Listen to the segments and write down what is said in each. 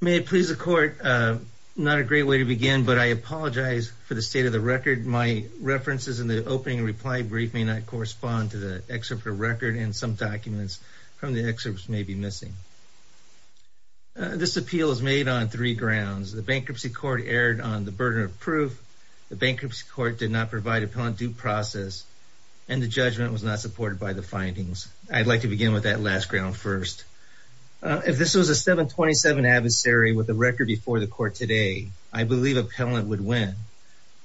May it please the Court, not a great way to begin, but I apologize for the state of the record. My references in the opening reply brief may not correspond to the excerpt of the record and some documents from the excerpts may be missing. This appeal is made on three grounds. The Bankruptcy Court erred on the burden of proof, the Bankruptcy Court did not provide appellant due process, and the judgment was not supported by the findings. I'd like to begin with that last ground first. If this was a 727 adversary with a record before the court today, I believe appellant would win.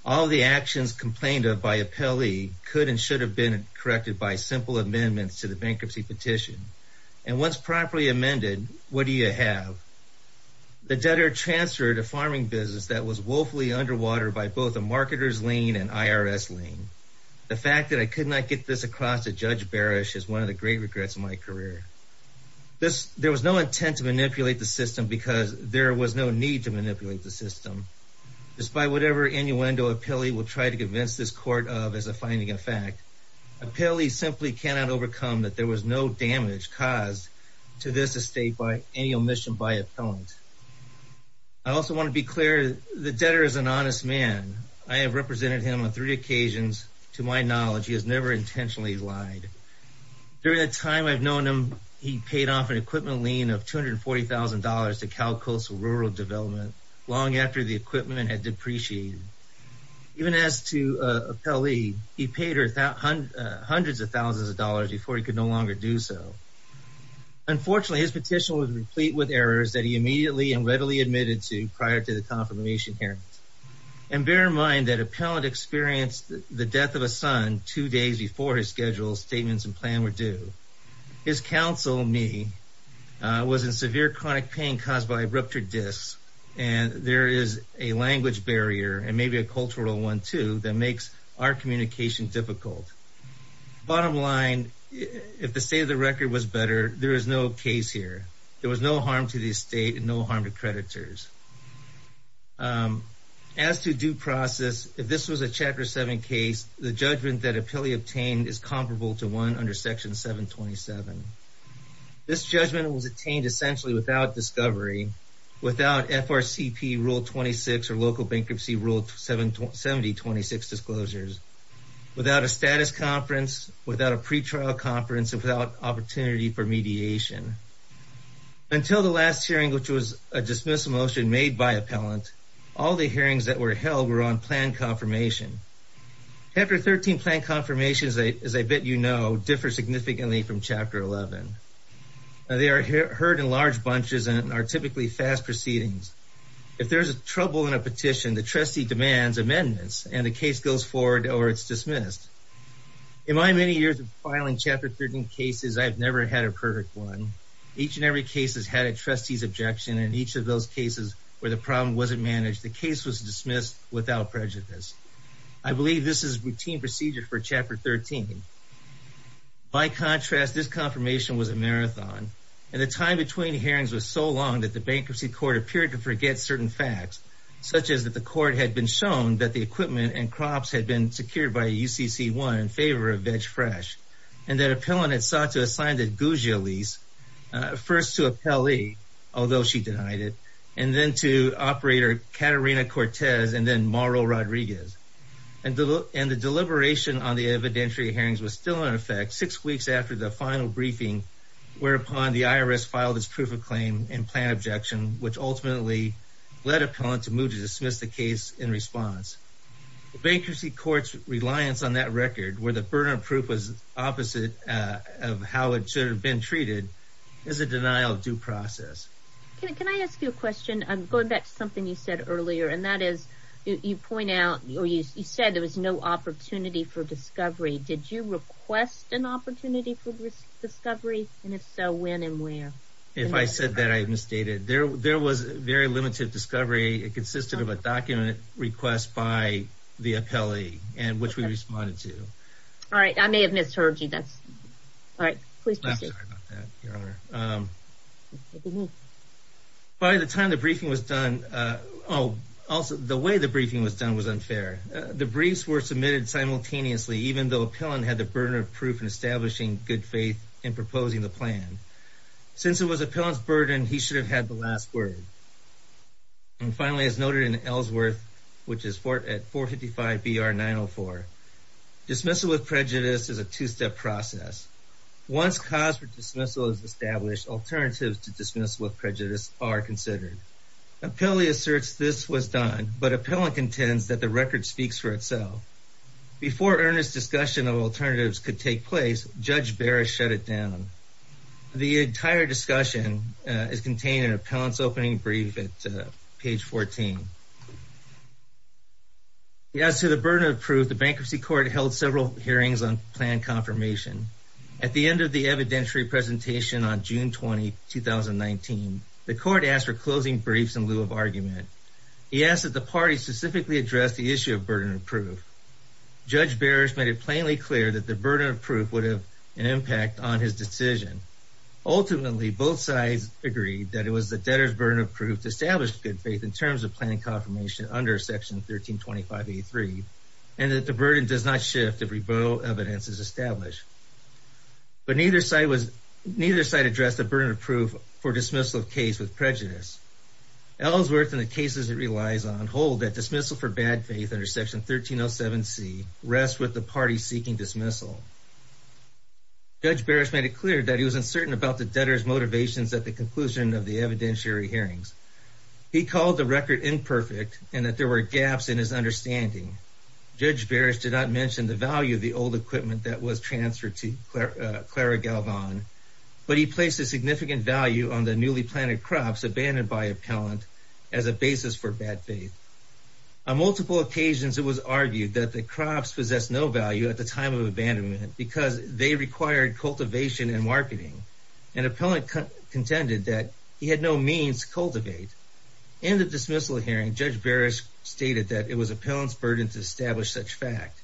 All the actions complained of by appellee could and should have been corrected by simple amendments to the bankruptcy petition. And once properly amended, what do you have? The debtor transferred a farming business that was woefully underwater by both a marketer's lien and IRS lien. The fact that I could not get this across to Judge Barish is one of the great regrets of my career. There was no intent to manipulate the system because there was no need to manipulate the system. Despite whatever innuendo appellee will try to convince this court of as a finding of fact, appellee simply cannot overcome that there was no damage caused to this estate by any omission by appellant. I also want to be clear, the debtor is an honest man. I have represented him on three occasions. To my knowledge, he has never intentionally lied. During the time I've known him, he paid off an equipment lien of $240,000 to Cal Coastal Rural Development long after the equipment had depreciated. Even as to appellee, he paid her hundreds of thousands of dollars before he could no longer do so. Unfortunately, his petition was replete with errors that he immediately and readily admitted to prior to the confirmation hearing. And bear in mind that appellant experienced the death of a son two days before his schedule, statements, and plan were due. His counsel, me, was in severe chronic pain caused by ruptured discs, and there is a language barrier and maybe a cultural one, too, that makes our communication difficult. Bottom line, if the state of the record was better, there is no case here. There was no harm to the estate and no harm to creditors. As to due process, if this was a Chapter 7 case, the judgment that appellee obtained is comparable to one under Section 727. This judgment was attained essentially without discovery, without FRCP Rule 26 or Local Bankruptcy Rule 7026 disclosures, without a status conference, without a pretrial conference, and without opportunity for mediation. Until the last hearing, which was a dismissal motion made by appellant, all the hearings that were held were on plan confirmation. Chapter 13 plan confirmation, as I bet you know, differs significantly from Chapter 11. They are heard in large bunches and are typically fast proceedings. If there's a trouble in a petition, the trustee demands amendments and the case goes forward or it's dismissed. In my many years of filing Chapter 13 cases, I've never had a perfect one. Each and every case has had a trustee's objection and each of those cases where the problem wasn't managed, the case was dismissed without prejudice. I believe this is routine procedure for Chapter 13. By contrast, this confirmation was a marathon and the time between hearings was so long that the Bankruptcy Court appeared to forget certain facts, such as that the court had been shown that the equipment and crops had been secured by UCC1 in favor of Veg Fresh and that appellant had sought to assign the Gugio lease first to Appellee, although she denied it, and then to operator Catarina Cortez and then Mauro Rodriguez. And the deliberation on the evidentiary hearings was still in effect six weeks after the final briefing, whereupon the IRS filed its proof of claim and plan objection, which ultimately led appellant to move to dismiss the case in response. Bankruptcy Court's reliance on that record where the burden of proof was opposite of how it should have been treated is a denial of due process. Can I ask you a question? Going back to something you said earlier, and that is you point out or you said there was no opportunity for discovery. Did you request an opportunity for discovery? And if so, when and where? If I said that I misstated. There was very limited discovery. It consisted of a document request by the appellee and which we responded to. All right. I may have misheard you. That's all right. Please. By the time the briefing was done, oh, also the way the briefing was done was unfair. The briefs were submitted simultaneously, even though appellant had the burden of proof in establishing good faith in proposing the plan. Since it was appellant's burden, he should have had the last word. And finally, as noted in Ellsworth, which is at 455 BR 904, dismissal with prejudice is a two-step process. Once cause for dismissal is established, alternatives to dismissal of prejudice are considered. Appellee asserts this was done, but appellant contends that the record speaks for itself. Before earnest discussion of alternatives could take place, Judge Barrett shut it down. The entire discussion is contained in appellant's opening brief at page 14. As to the burden of proof, the bankruptcy court held several hearings on plan confirmation. At the end of the evidentiary presentation on June 20, 2019, the court asked for closing briefs in lieu of argument. He asked that the party specifically address the issue of burden of proof. Judge Barrett made it plainly clear that the burden of proof would have an impact on his decision. Ultimately, both sides agreed that it was the debtor's burden of proof to establish good faith in terms of planning confirmation under section 1325A3, and that the burden does not shift if rebuttal evidence is established. But neither side addressed the burden of proof for dismissal of case with prejudice. Ellsworth and the cases it relies on hold that dismissal for bad faith under section 1307C rests with the party seeking dismissal. Judge Barrett made it clear that he was uncertain about the debtor's motivations at the conclusion of the evidentiary hearings. He called the record imperfect and that there were gaps in his understanding. Judge Barrett did not mention the value of the old equipment that was transferred to Clara Galvan, but he placed a significant value on the newly planted crops abandoned by appellant as a basis for bad faith. On multiple occasions, it was argued that the crops possessed no value at the time of the dismissal hearing because they required cultivation and marketing, and appellant contended that he had no means to cultivate. In the dismissal hearing, Judge Barrett stated that it was appellant's burden to establish such fact.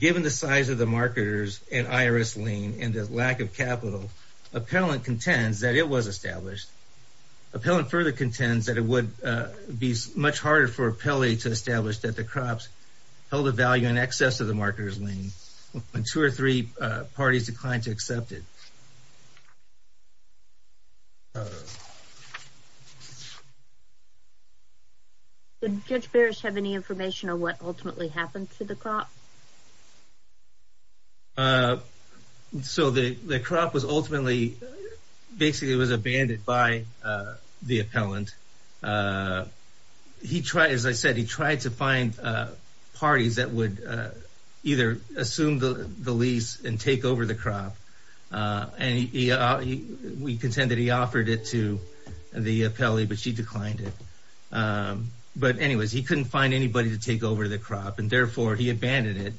Given the size of the marketer's and IRS lien and the lack of capital, appellant contends that it was established. Appellant further contends that it would be much harder for appellate to establish that the crops held a value in excess of the marketer's lien when two or three parties declined to accept it. Did Judge Barrett have any information on what ultimately happened to the crop? So the crop was ultimately basically was abandoned by the appellant. As I said, he tried to find parties that would either assume the lease and take over the crop. And we contend that he offered it to the appellate, but she declined it. But anyways, he couldn't find anybody to take over the crop, and therefore he abandoned it.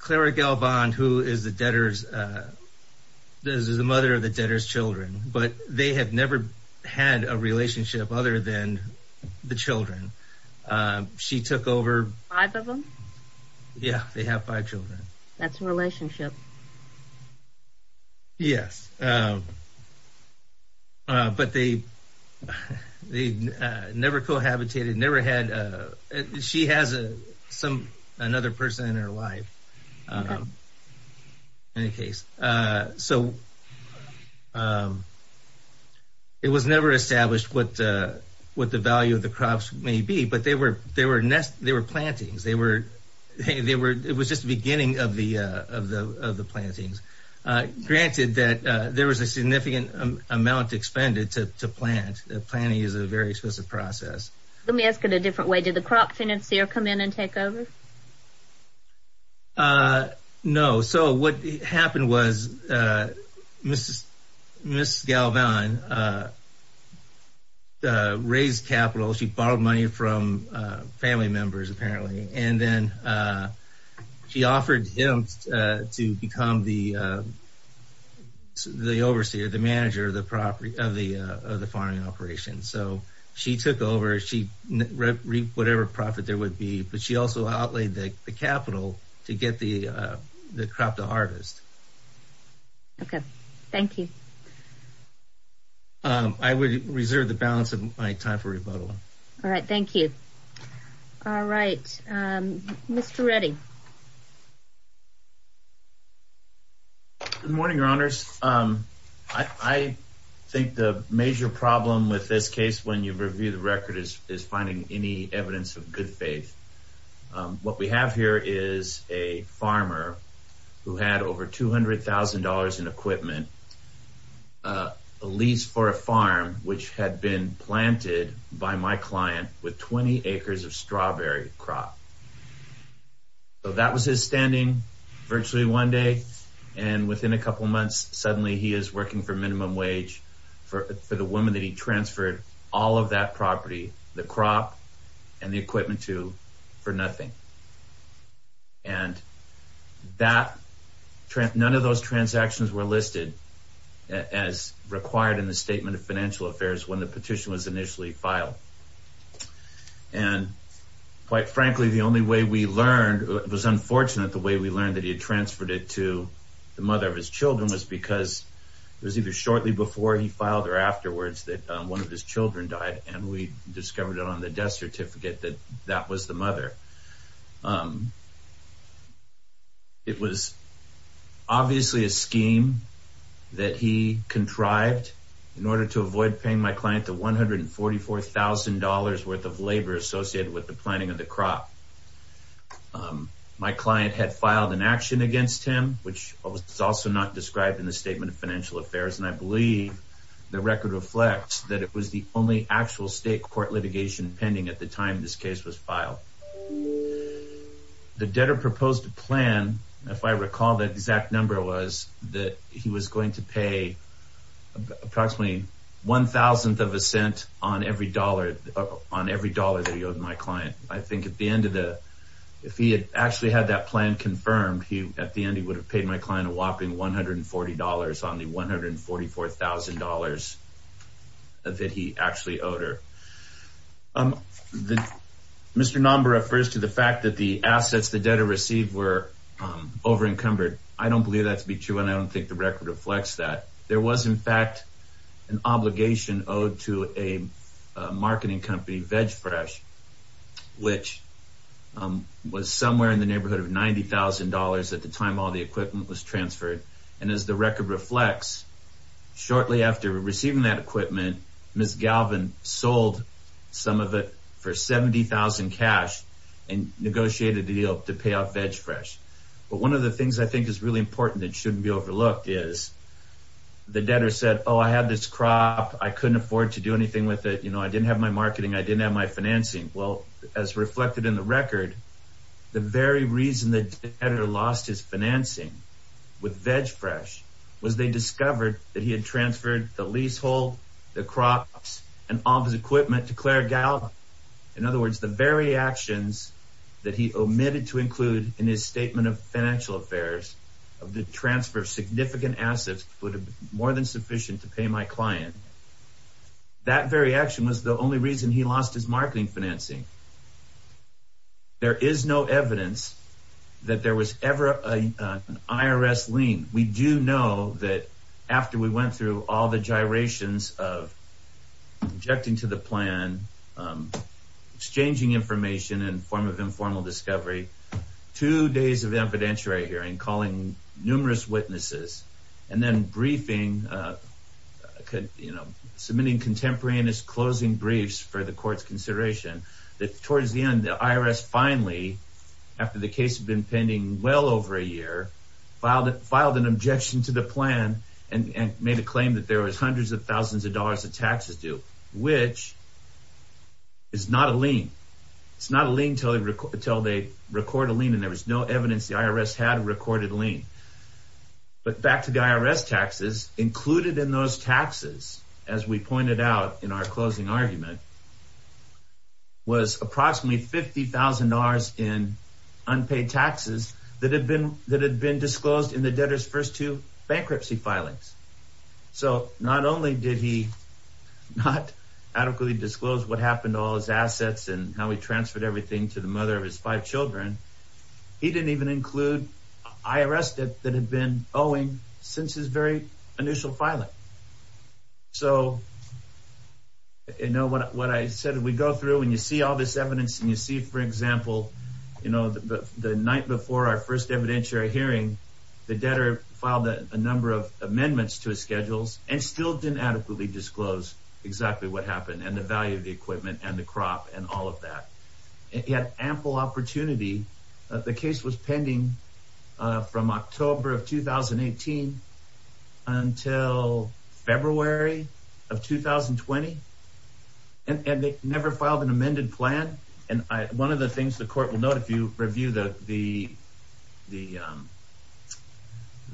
Clara Galvan, who is the debtor's, is the mother of the debtor's children, but they have never had a relationship other than the children. She took over five of them. Yeah, they have five children. That's a relationship. Yes. But they they never cohabitated, never had she has some another person in her life. Um, in any case, so, um, it was never established what what the value of the crops may be, but they were they were they were plantings. They were they were it was just the beginning of the of the of the plantings. Granted that there was a significant amount expended to plant. Planting is a very expensive process. Let me ask it a different way. Did the crop financier come in and take over? No. So what happened was Mrs. Mrs. Galvan raised capital. She borrowed money from family members, apparently, and then she offered him to become the the overseer, the manager of the property of the of the farming operation. So she took over. She reaped whatever profit there would be. But she also outlaid the capital to get the crop the hardest. OK, thank you. I would reserve the balance of my time for rebuttal. All right, thank you. All right. Mr. Redding. Good morning, Your Honors, I think the major problem with this case, when you review the record, is finding any evidence of good faith. What we have here is a farmer who had over two hundred thousand dollars in equipment, a lease for a farm which had been planted by my client with 20 acres of strawberry crop. So that was his standing virtually one day and within a couple of months, suddenly he is working for minimum wage for the woman that he transferred all of that property, the for nothing. And that none of those transactions were listed as required in the statement of financial affairs when the petition was initially filed. And quite frankly, the only way we learned it was unfortunate the way we learned that he had transferred it to the mother of his children was because it was either shortly before he filed or afterwards that one of his children died and we discovered it on the death certificate that that was the mother. It was obviously a scheme that he contrived in order to avoid paying my client the one hundred and forty four thousand dollars worth of labor associated with the planting of the crop. My client had filed an action against him, which is also not described in the statement of financial affairs, and I believe the record reflects that it was the only actual state court litigation pending at the time this case was filed. The debtor proposed a plan, if I recall, that exact number was that he was going to pay approximately one thousandth of a cent on every dollar on every dollar that he owed my client. I think at the end of the if he had actually had that plan confirmed, he at the end he would have paid my client a whopping one hundred and forty dollars on the one hundred and forty four thousand dollars that he actually owed her. Um, the Mr. Nomber refers to the fact that the assets the debtor received were over encumbered. I don't believe that to be true, and I don't think the record reflects that there was, in fact, an obligation owed to a marketing company, Veg Fresh, which was somewhere in the neighborhood of ninety thousand dollars at the time all the equipment was transferred. And as the record reflects, shortly after receiving that equipment, Ms. Galvin sold some of it for seventy thousand cash and negotiated a deal to pay off Veg Fresh. But one of the things I think is really important that shouldn't be overlooked is the debtor said, oh, I had this crop. I couldn't afford to do anything with it. You know, I didn't have my marketing. I didn't have my financing. Well, as reflected in the record, the very reason the debtor lost his financing with Veg Fresh was they discovered that he had transferred the leasehold, the crops and all of his equipment to Claire Galvin. In other words, the very actions that he omitted to include in his statement of financial affairs of the transfer of significant assets would have been more than sufficient to pay my client. That very action was the only reason he lost his marketing financing. There is no evidence that there was ever an IRS lien. We do know that after we went through all the gyrations of objecting to the plan, exchanging information in the form of informal discovery, two days of the evidentiary hearing, calling numerous witnesses and then briefing, you know, submitting contemporaneous closing briefs for the court's consideration. That towards the end, the IRS finally, after the case had been pending well over a year, filed an objection to the plan and made a claim that there was hundreds of thousands of dollars of taxes due, which is not a lien. It's not a lien until they record a lien and there was no evidence the IRS had a recorded lien. But back to the IRS taxes included in those taxes, as we pointed out in our closing argument was approximately $50,000 in unpaid taxes that had been, that had been disclosed in the debtors first two bankruptcy filings. So not only did he not adequately disclose what happened to all his assets and how he transferred everything to the mother of his five children. He didn't even include IRS debt that had been owing since his very initial filing. So, you know, what I said, we go through and you see all this evidence and you see, for example, you know, the night before our first evidentiary hearing, the debtor filed a number of amendments to his schedules and still didn't adequately disclose exactly what happened and the value of the equipment and the crop and all of that. He had ample opportunity. The case was pending from October of 2018 until February of 2020. And they never filed an amended plan. And I, one of the things the court will note, if you review the, the, the,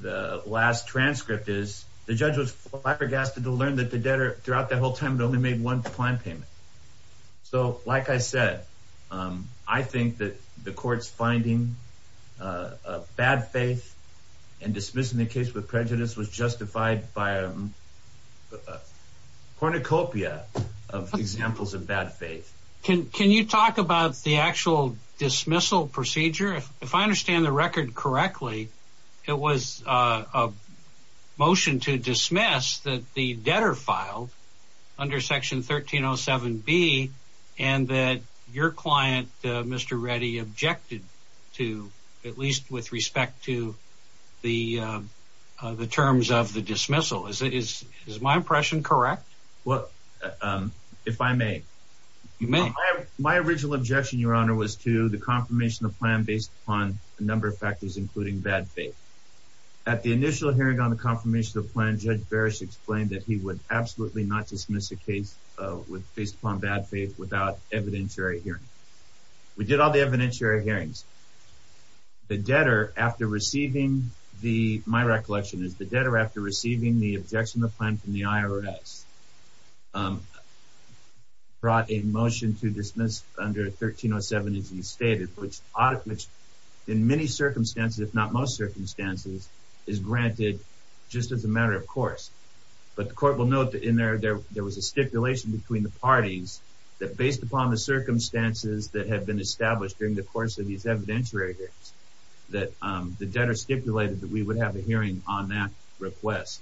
the last transcript is the judge was flabbergasted to learn that the debtor throughout that whole time had only made one plan payment. So, like I said, I think that the court's finding of bad faith and dismissing the case with prejudice was justified by a cornucopia of examples of bad faith. Can, can you talk about the actual dismissal procedure? If I understand the record correctly, it was a motion to dismiss that the debtor filed under section 1307B and that your client, Mr. Reddy, objected to, at least with respect to the, the terms of the dismissal. Is it, is, is my impression correct? Well, if I may, my original objection, your honor, was to the confirmation of plan based on a number of factors, including bad faith at the initial hearing on the confirmation of plan, Judge Barish explained that he would absolutely not dismiss a case with, based upon bad faith without evidentiary hearing. We did all the evidentiary hearings. The debtor after receiving the, my recollection is the debtor after receiving the objection of the plan from the IRS brought a motion to dismiss under 1307 as he stated, which, which in many circumstances, if not most circumstances is granted just as a matter of course. But the court will note that in there, there, there was a stipulation between the parties that based upon the circumstances that had been established during the course of these evidentiary hearings, that the debtor stipulated that we would have a hearing on that request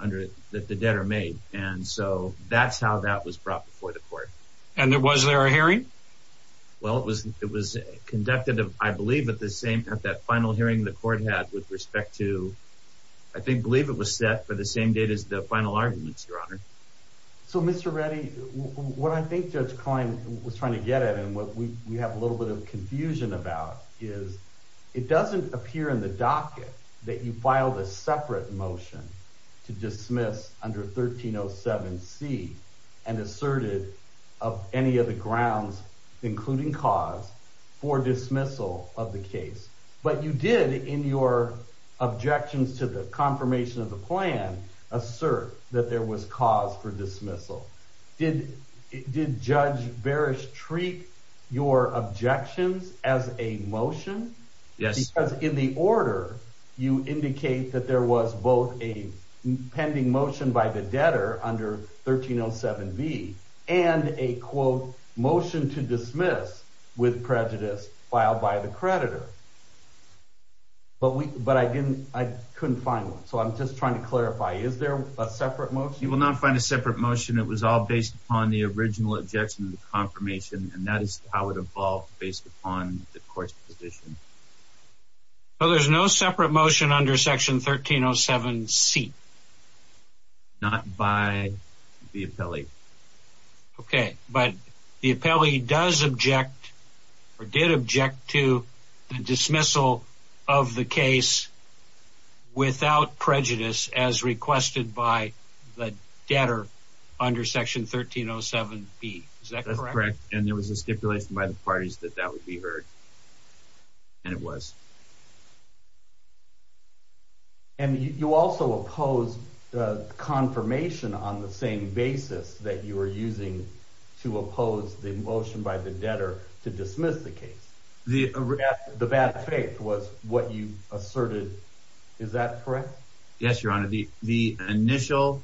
under, that the debtor made. And so that's how that was brought before the court. And there was there a hearing? Well, it was, it was conducted, I believe at the same, at that final hearing the court had with respect to, I think, believe it was set for the same date as the final arguments, your honor. So Mr. Reddy, what I think Judge Klein was trying to get at, and what we have a little bit of confusion about is it doesn't appear in the docket that you filed a separate motion to dismiss under 1307C and asserted of any of the grounds, including cause for dismissal of the case. But you did in your objections to the confirmation of the plan, assert that there was cause for dismissal. Did, did Judge Barish treat your objections as a motion? Yes. Because in the order, you indicate that there was both a pending motion by the debtor under 1307B and a quote, motion to dismiss with prejudice filed by the court, but we, but I didn't, I couldn't find one. So I'm just trying to clarify, is there a separate motion? You will not find a separate motion. It was all based upon the original objection to the confirmation. And that is how it evolved based upon the court's position. Well, there's no separate motion under section 1307C. Not by the appellee. Okay. But the appellee does object or did object to the dismissal of the case without prejudice as requested by the debtor under section 1307B. Is that correct? And there was a stipulation by the parties that that would be heard. And it was. And you also opposed the confirmation on the same basis that you were using to oppose the motion by the debtor to dismiss the case, the bad faith was what you asserted, is that correct? Yes, Your Honor. The initial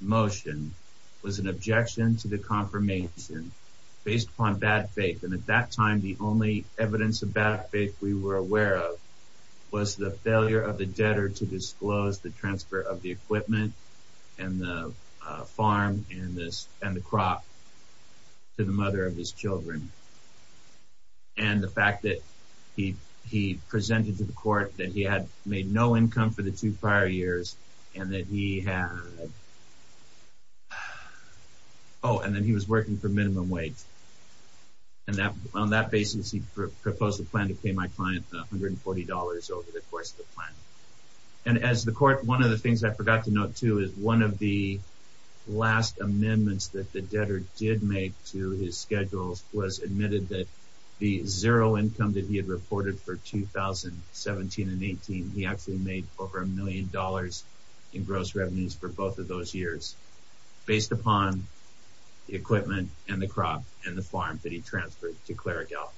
motion was an objection to the confirmation based upon bad faith. And at that time, the only evidence of bad faith we were aware of was the failure of the debtor to disclose the transfer of the equipment and the farm and the crop to the mother of his children. And the fact that he presented to the court that he had made no income for the two prior years and that he had, oh, and then he was working for minimum wage and that on that basis, he proposed a plan to pay my client $140 over the course of the plan. And as the court, one of the things I forgot to note too, is one of the last amendments that the debtor did make to his schedules was admitted that the zero income that he had reported for 2017 and 18, he actually made over a million dollars in gross revenues for both of those years based upon the equipment and the crop and the farm that he transferred to Clara Galk.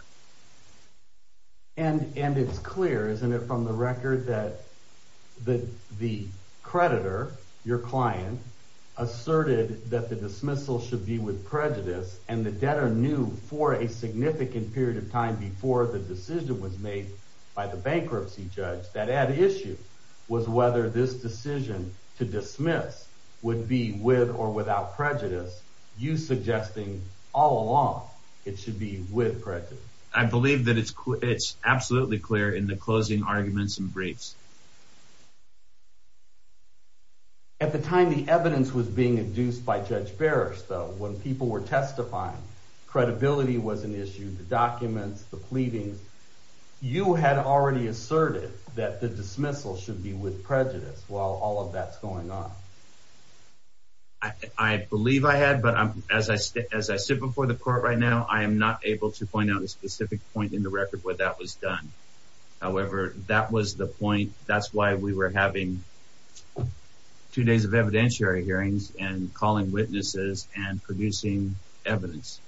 And, and it's clear, isn't it from the record that the, the creditor, your client, asserted that the dismissal should be with prejudice and the debtor knew for a significant period of time before the decision was made by the bankruptcy judge that at issue was whether this decision to dismiss would be with or without prejudice, you suggesting all along it should be with prejudice. I believe that it's, it's absolutely clear in the closing arguments and briefs. At the time, the evidence was being induced by judge Barrister when people were testifying, credibility was an issue, the documents, the pleadings, you had already asserted that the dismissal should be with prejudice while all of that's going on. I believe I had, but as I sit, as I sit before the court right now, I am not able to point out a specific point in the record where that was done. However, that was the point. That's why we were having two days of evidentiary hearings and calling witnesses and producing evidence.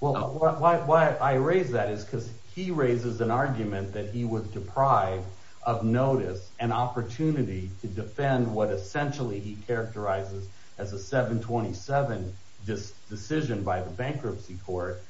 Well, why, why, why I raised that is because he raises an argument that he was deprived of notice and opportunity to defend what essentially he characterizes as a 727 decision by the bankruptcy court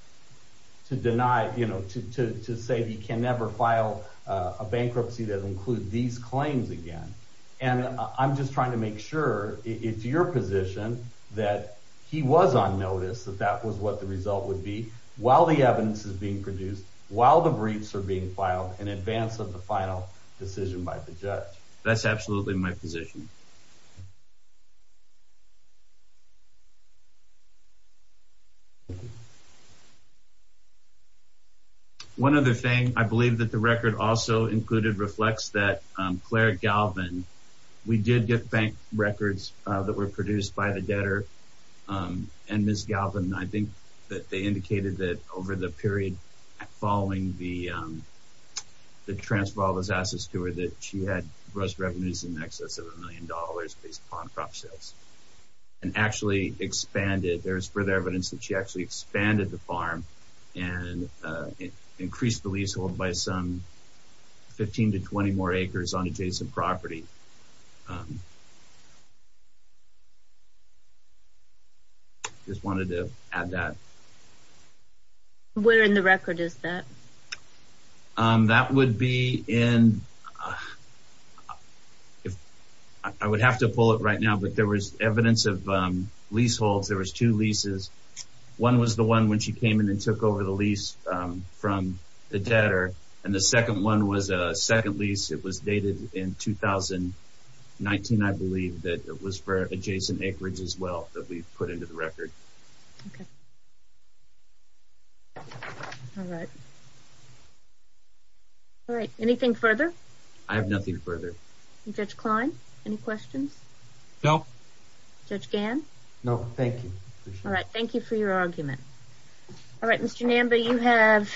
to deny, you know, to, to say he can never file a bankruptcy that includes these claims again. And I'm just trying to make sure it's your position that he was on notice that that was what the result would be while the evidence is being produced, while the briefs are being filed in advance of the final decision by the judge. That's absolutely my position. One other thing I believe that the record also included reflects that Claire Galvin, we did get bank records that were produced by the debtor and Ms. Galvin, I think that they indicated that over the period following the, the transfer of all those assets to her, that she had gross revenues in excess of $1.5 million based upon crop sales and actually expanded. There's further evidence that she actually expanded the farm and increased the leasehold by some 15 to 20 more acres on adjacent property. Just wanted to add that. Where in the record is that? That would be in, I would have to pull it right now, but there was evidence of leaseholds. There was two leases. One was the one when she came in and took over the lease from the debtor. And the second one was a second lease. It was dated in 2019, I believe that it was for adjacent acreage as well that we've put into the record. Okay. All right. Anything further? I have nothing further. Judge Klein, any questions? No. Judge Gann? No. Thank you. All right. Thank you for your argument. All right, Mr. Namba, you have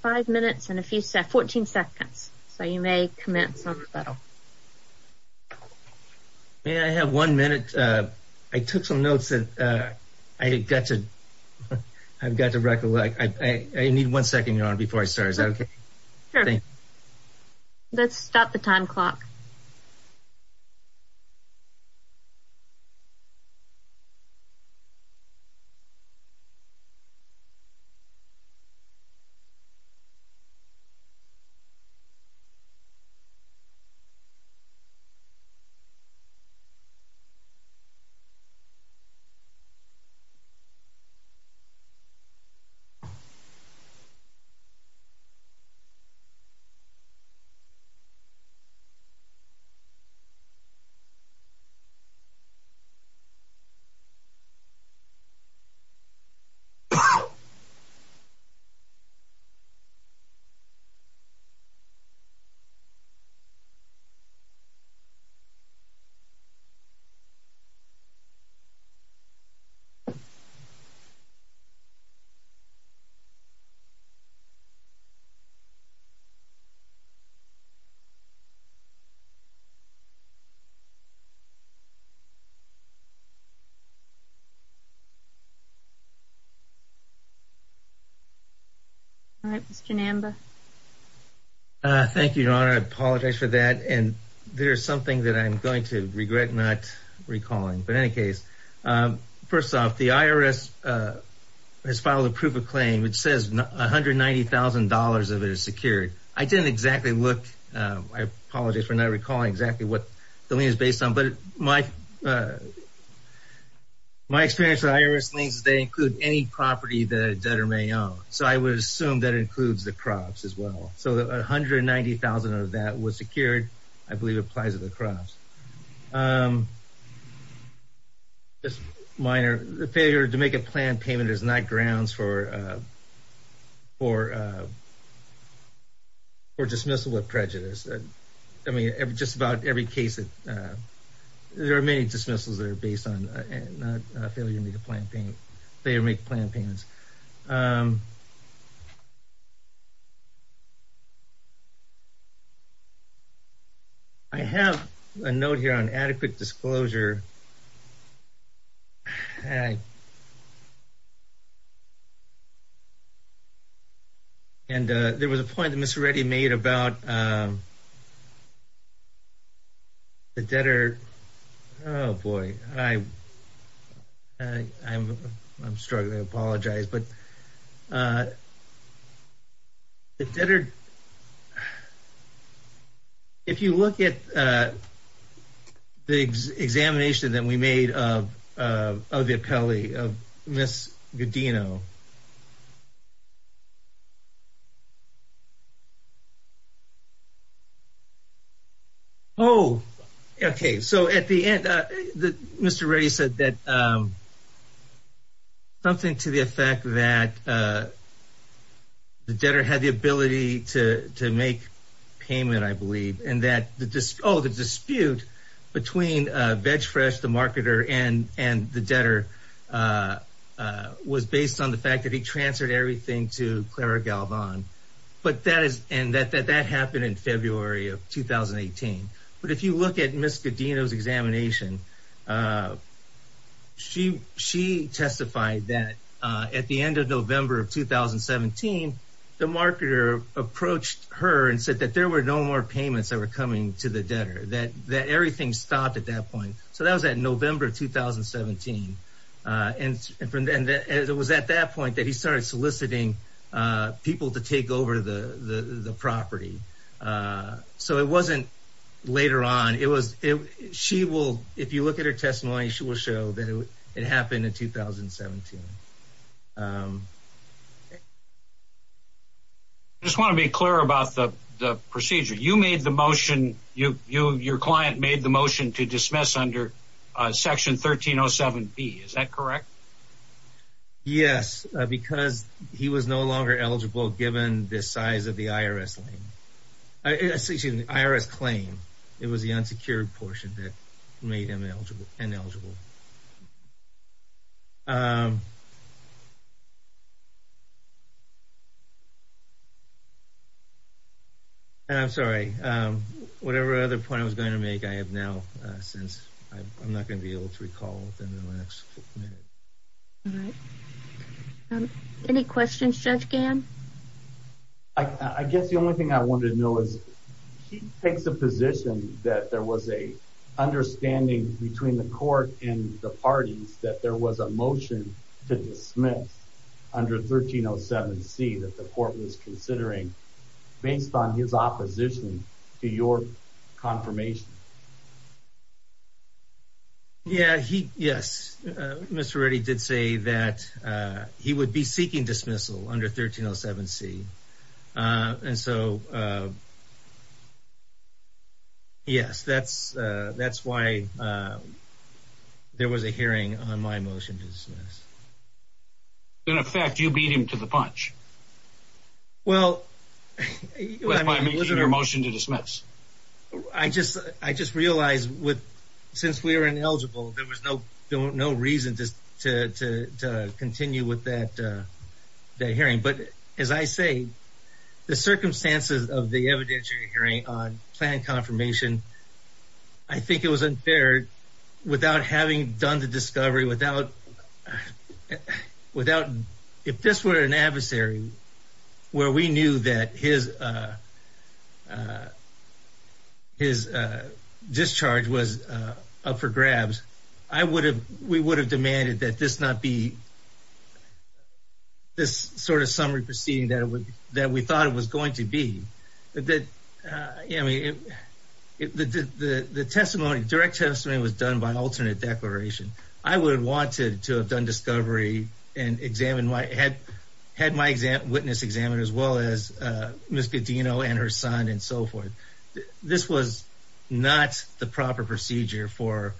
five minutes and a few seconds, 14 seconds. So you may commence on the battle. May I have one minute? Uh, I took some notes that, uh, I got to, I've got to recollect. I, I need one second, your honor, before I go on. I'm sorry. Is that okay? Let's stop the time clock. All right, Mr. Namba. Uh, thank you, your honor. I apologize for that. And there's something that I'm going to regret not recalling. But in any case, um, first off the IRS, uh, has filed a proof of claim. It says $190,000 of it is secured. I didn't exactly look, uh, I apologize for not recalling exactly what the lien is based on. But my, uh, my experience with IRS liens, they include any property that a debtor may own. So I would assume that includes the crops as well. So the $190,000 of that was secured. I believe it applies to the crops. Um, just minor, the failure to make a plan payment is not grounds for, uh, for, uh, for dismissal of prejudice. I mean, just about every case that, uh, there are many dismissals that are based on a failure to make a plan payment, failure to make plan payments. Um, I have a note here on adequate disclosure. Uh, and, uh, there was a point that Ms. Reddy made about, um, the debtor, oh boy, I, uh, I'm, I'm struggling. I apologize. But, uh, the debtor, if you look at, uh, the examination of a debtor, the examination that we made of, uh, of the appellee, of Ms. Godino. Oh, okay. So at the end, uh, the, Mr. Reddy said that, um, something to the effect that, uh, the debtor had the ability to, to make payment, I believe. And that the dis, oh, the dispute between, uh, VegFresh, the marketer and, and the debtor, uh, uh, was based on the fact that he transferred everything to Clara Galvan, but that is, and that, that, that happened in February of 2018, but if you look at Ms. Godino's examination, uh, she, she testified that, uh, at the end of November of 2017, the marketer approached her and said that there were no more payments that were coming to the debtor, that, that everything stopped at that point. So that was that November, 2017. Uh, and, and from then, it was at that point that he started soliciting, uh, people to take over the, the, the property. Uh, so it wasn't later on. It was, it, she will, if you look at her testimony, she will show that it happened in 2017. Um, I just want to be clear about the, the procedure. You made the motion, you, you, your client made the motion to dismiss under, uh, section 1307B. Is that correct? Yes, because he was no longer eligible given the size of the IRS lane. Uh, excuse me, the IRS claim, it was the unsecured portion that made him eligible, ineligible. Um, and I'm sorry. Um, whatever other point I was going to make, I have now, uh, since I'm not going to be able to recall within the next minute. All right. Um, any questions, Judge Gann? I, I guess the only thing I wanted to know is, she takes a position that there was a understanding between the court and the parties, that there was a motion to dismiss under 1307C that the court was considering based on his opposition to your confirmation. Yeah, he, yes. Uh, Mr. Reddy did say that, uh, he would be seeking dismissal under 1307C. Uh, and so, uh, yes, that's, uh, that's why, uh, there was a hearing on my motion to dismiss. In effect, you beat him to the punch. Well, I mean, was it a motion to dismiss? I just, I just realized with, since we were ineligible, there was no, no reason to continue with that, uh, hearing. But as I say, the circumstances of the evidentiary hearing on planned confirmation, I think it was unfair without having done the discovery, without, without, if this were an adversary where we knew that his, uh, uh, his, uh, discharge was, uh, up for grabs, I would have, we would have demanded that this not be this sort of summary proceeding that it would, that we thought it was going to be. That, uh, I mean, it, the, the, the testimony, direct testimony was done by alternate declaration. I would have wanted to have done discovery and examine my, had, had my exam, witness examined as well as, uh, Ms. Godino and her son and so forth. This was not the proper procedure for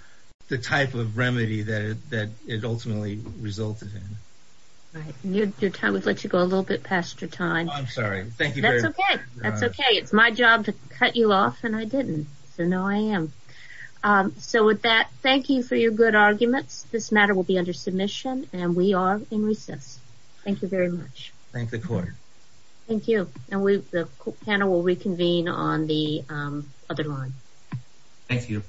the type of remedy that, that it ultimately resulted in. Right. Your time would let you go a little bit past your time. I'm sorry. Thank you. That's okay. That's okay. It's my job to cut you off and I didn't. So no, I am. Um, so with that, thank you for your good arguments. This matter will be under submission and we are in recess. Thank you very much. Thank the court. Thank you. And we, the panel will reconvene on the other line. Thank you.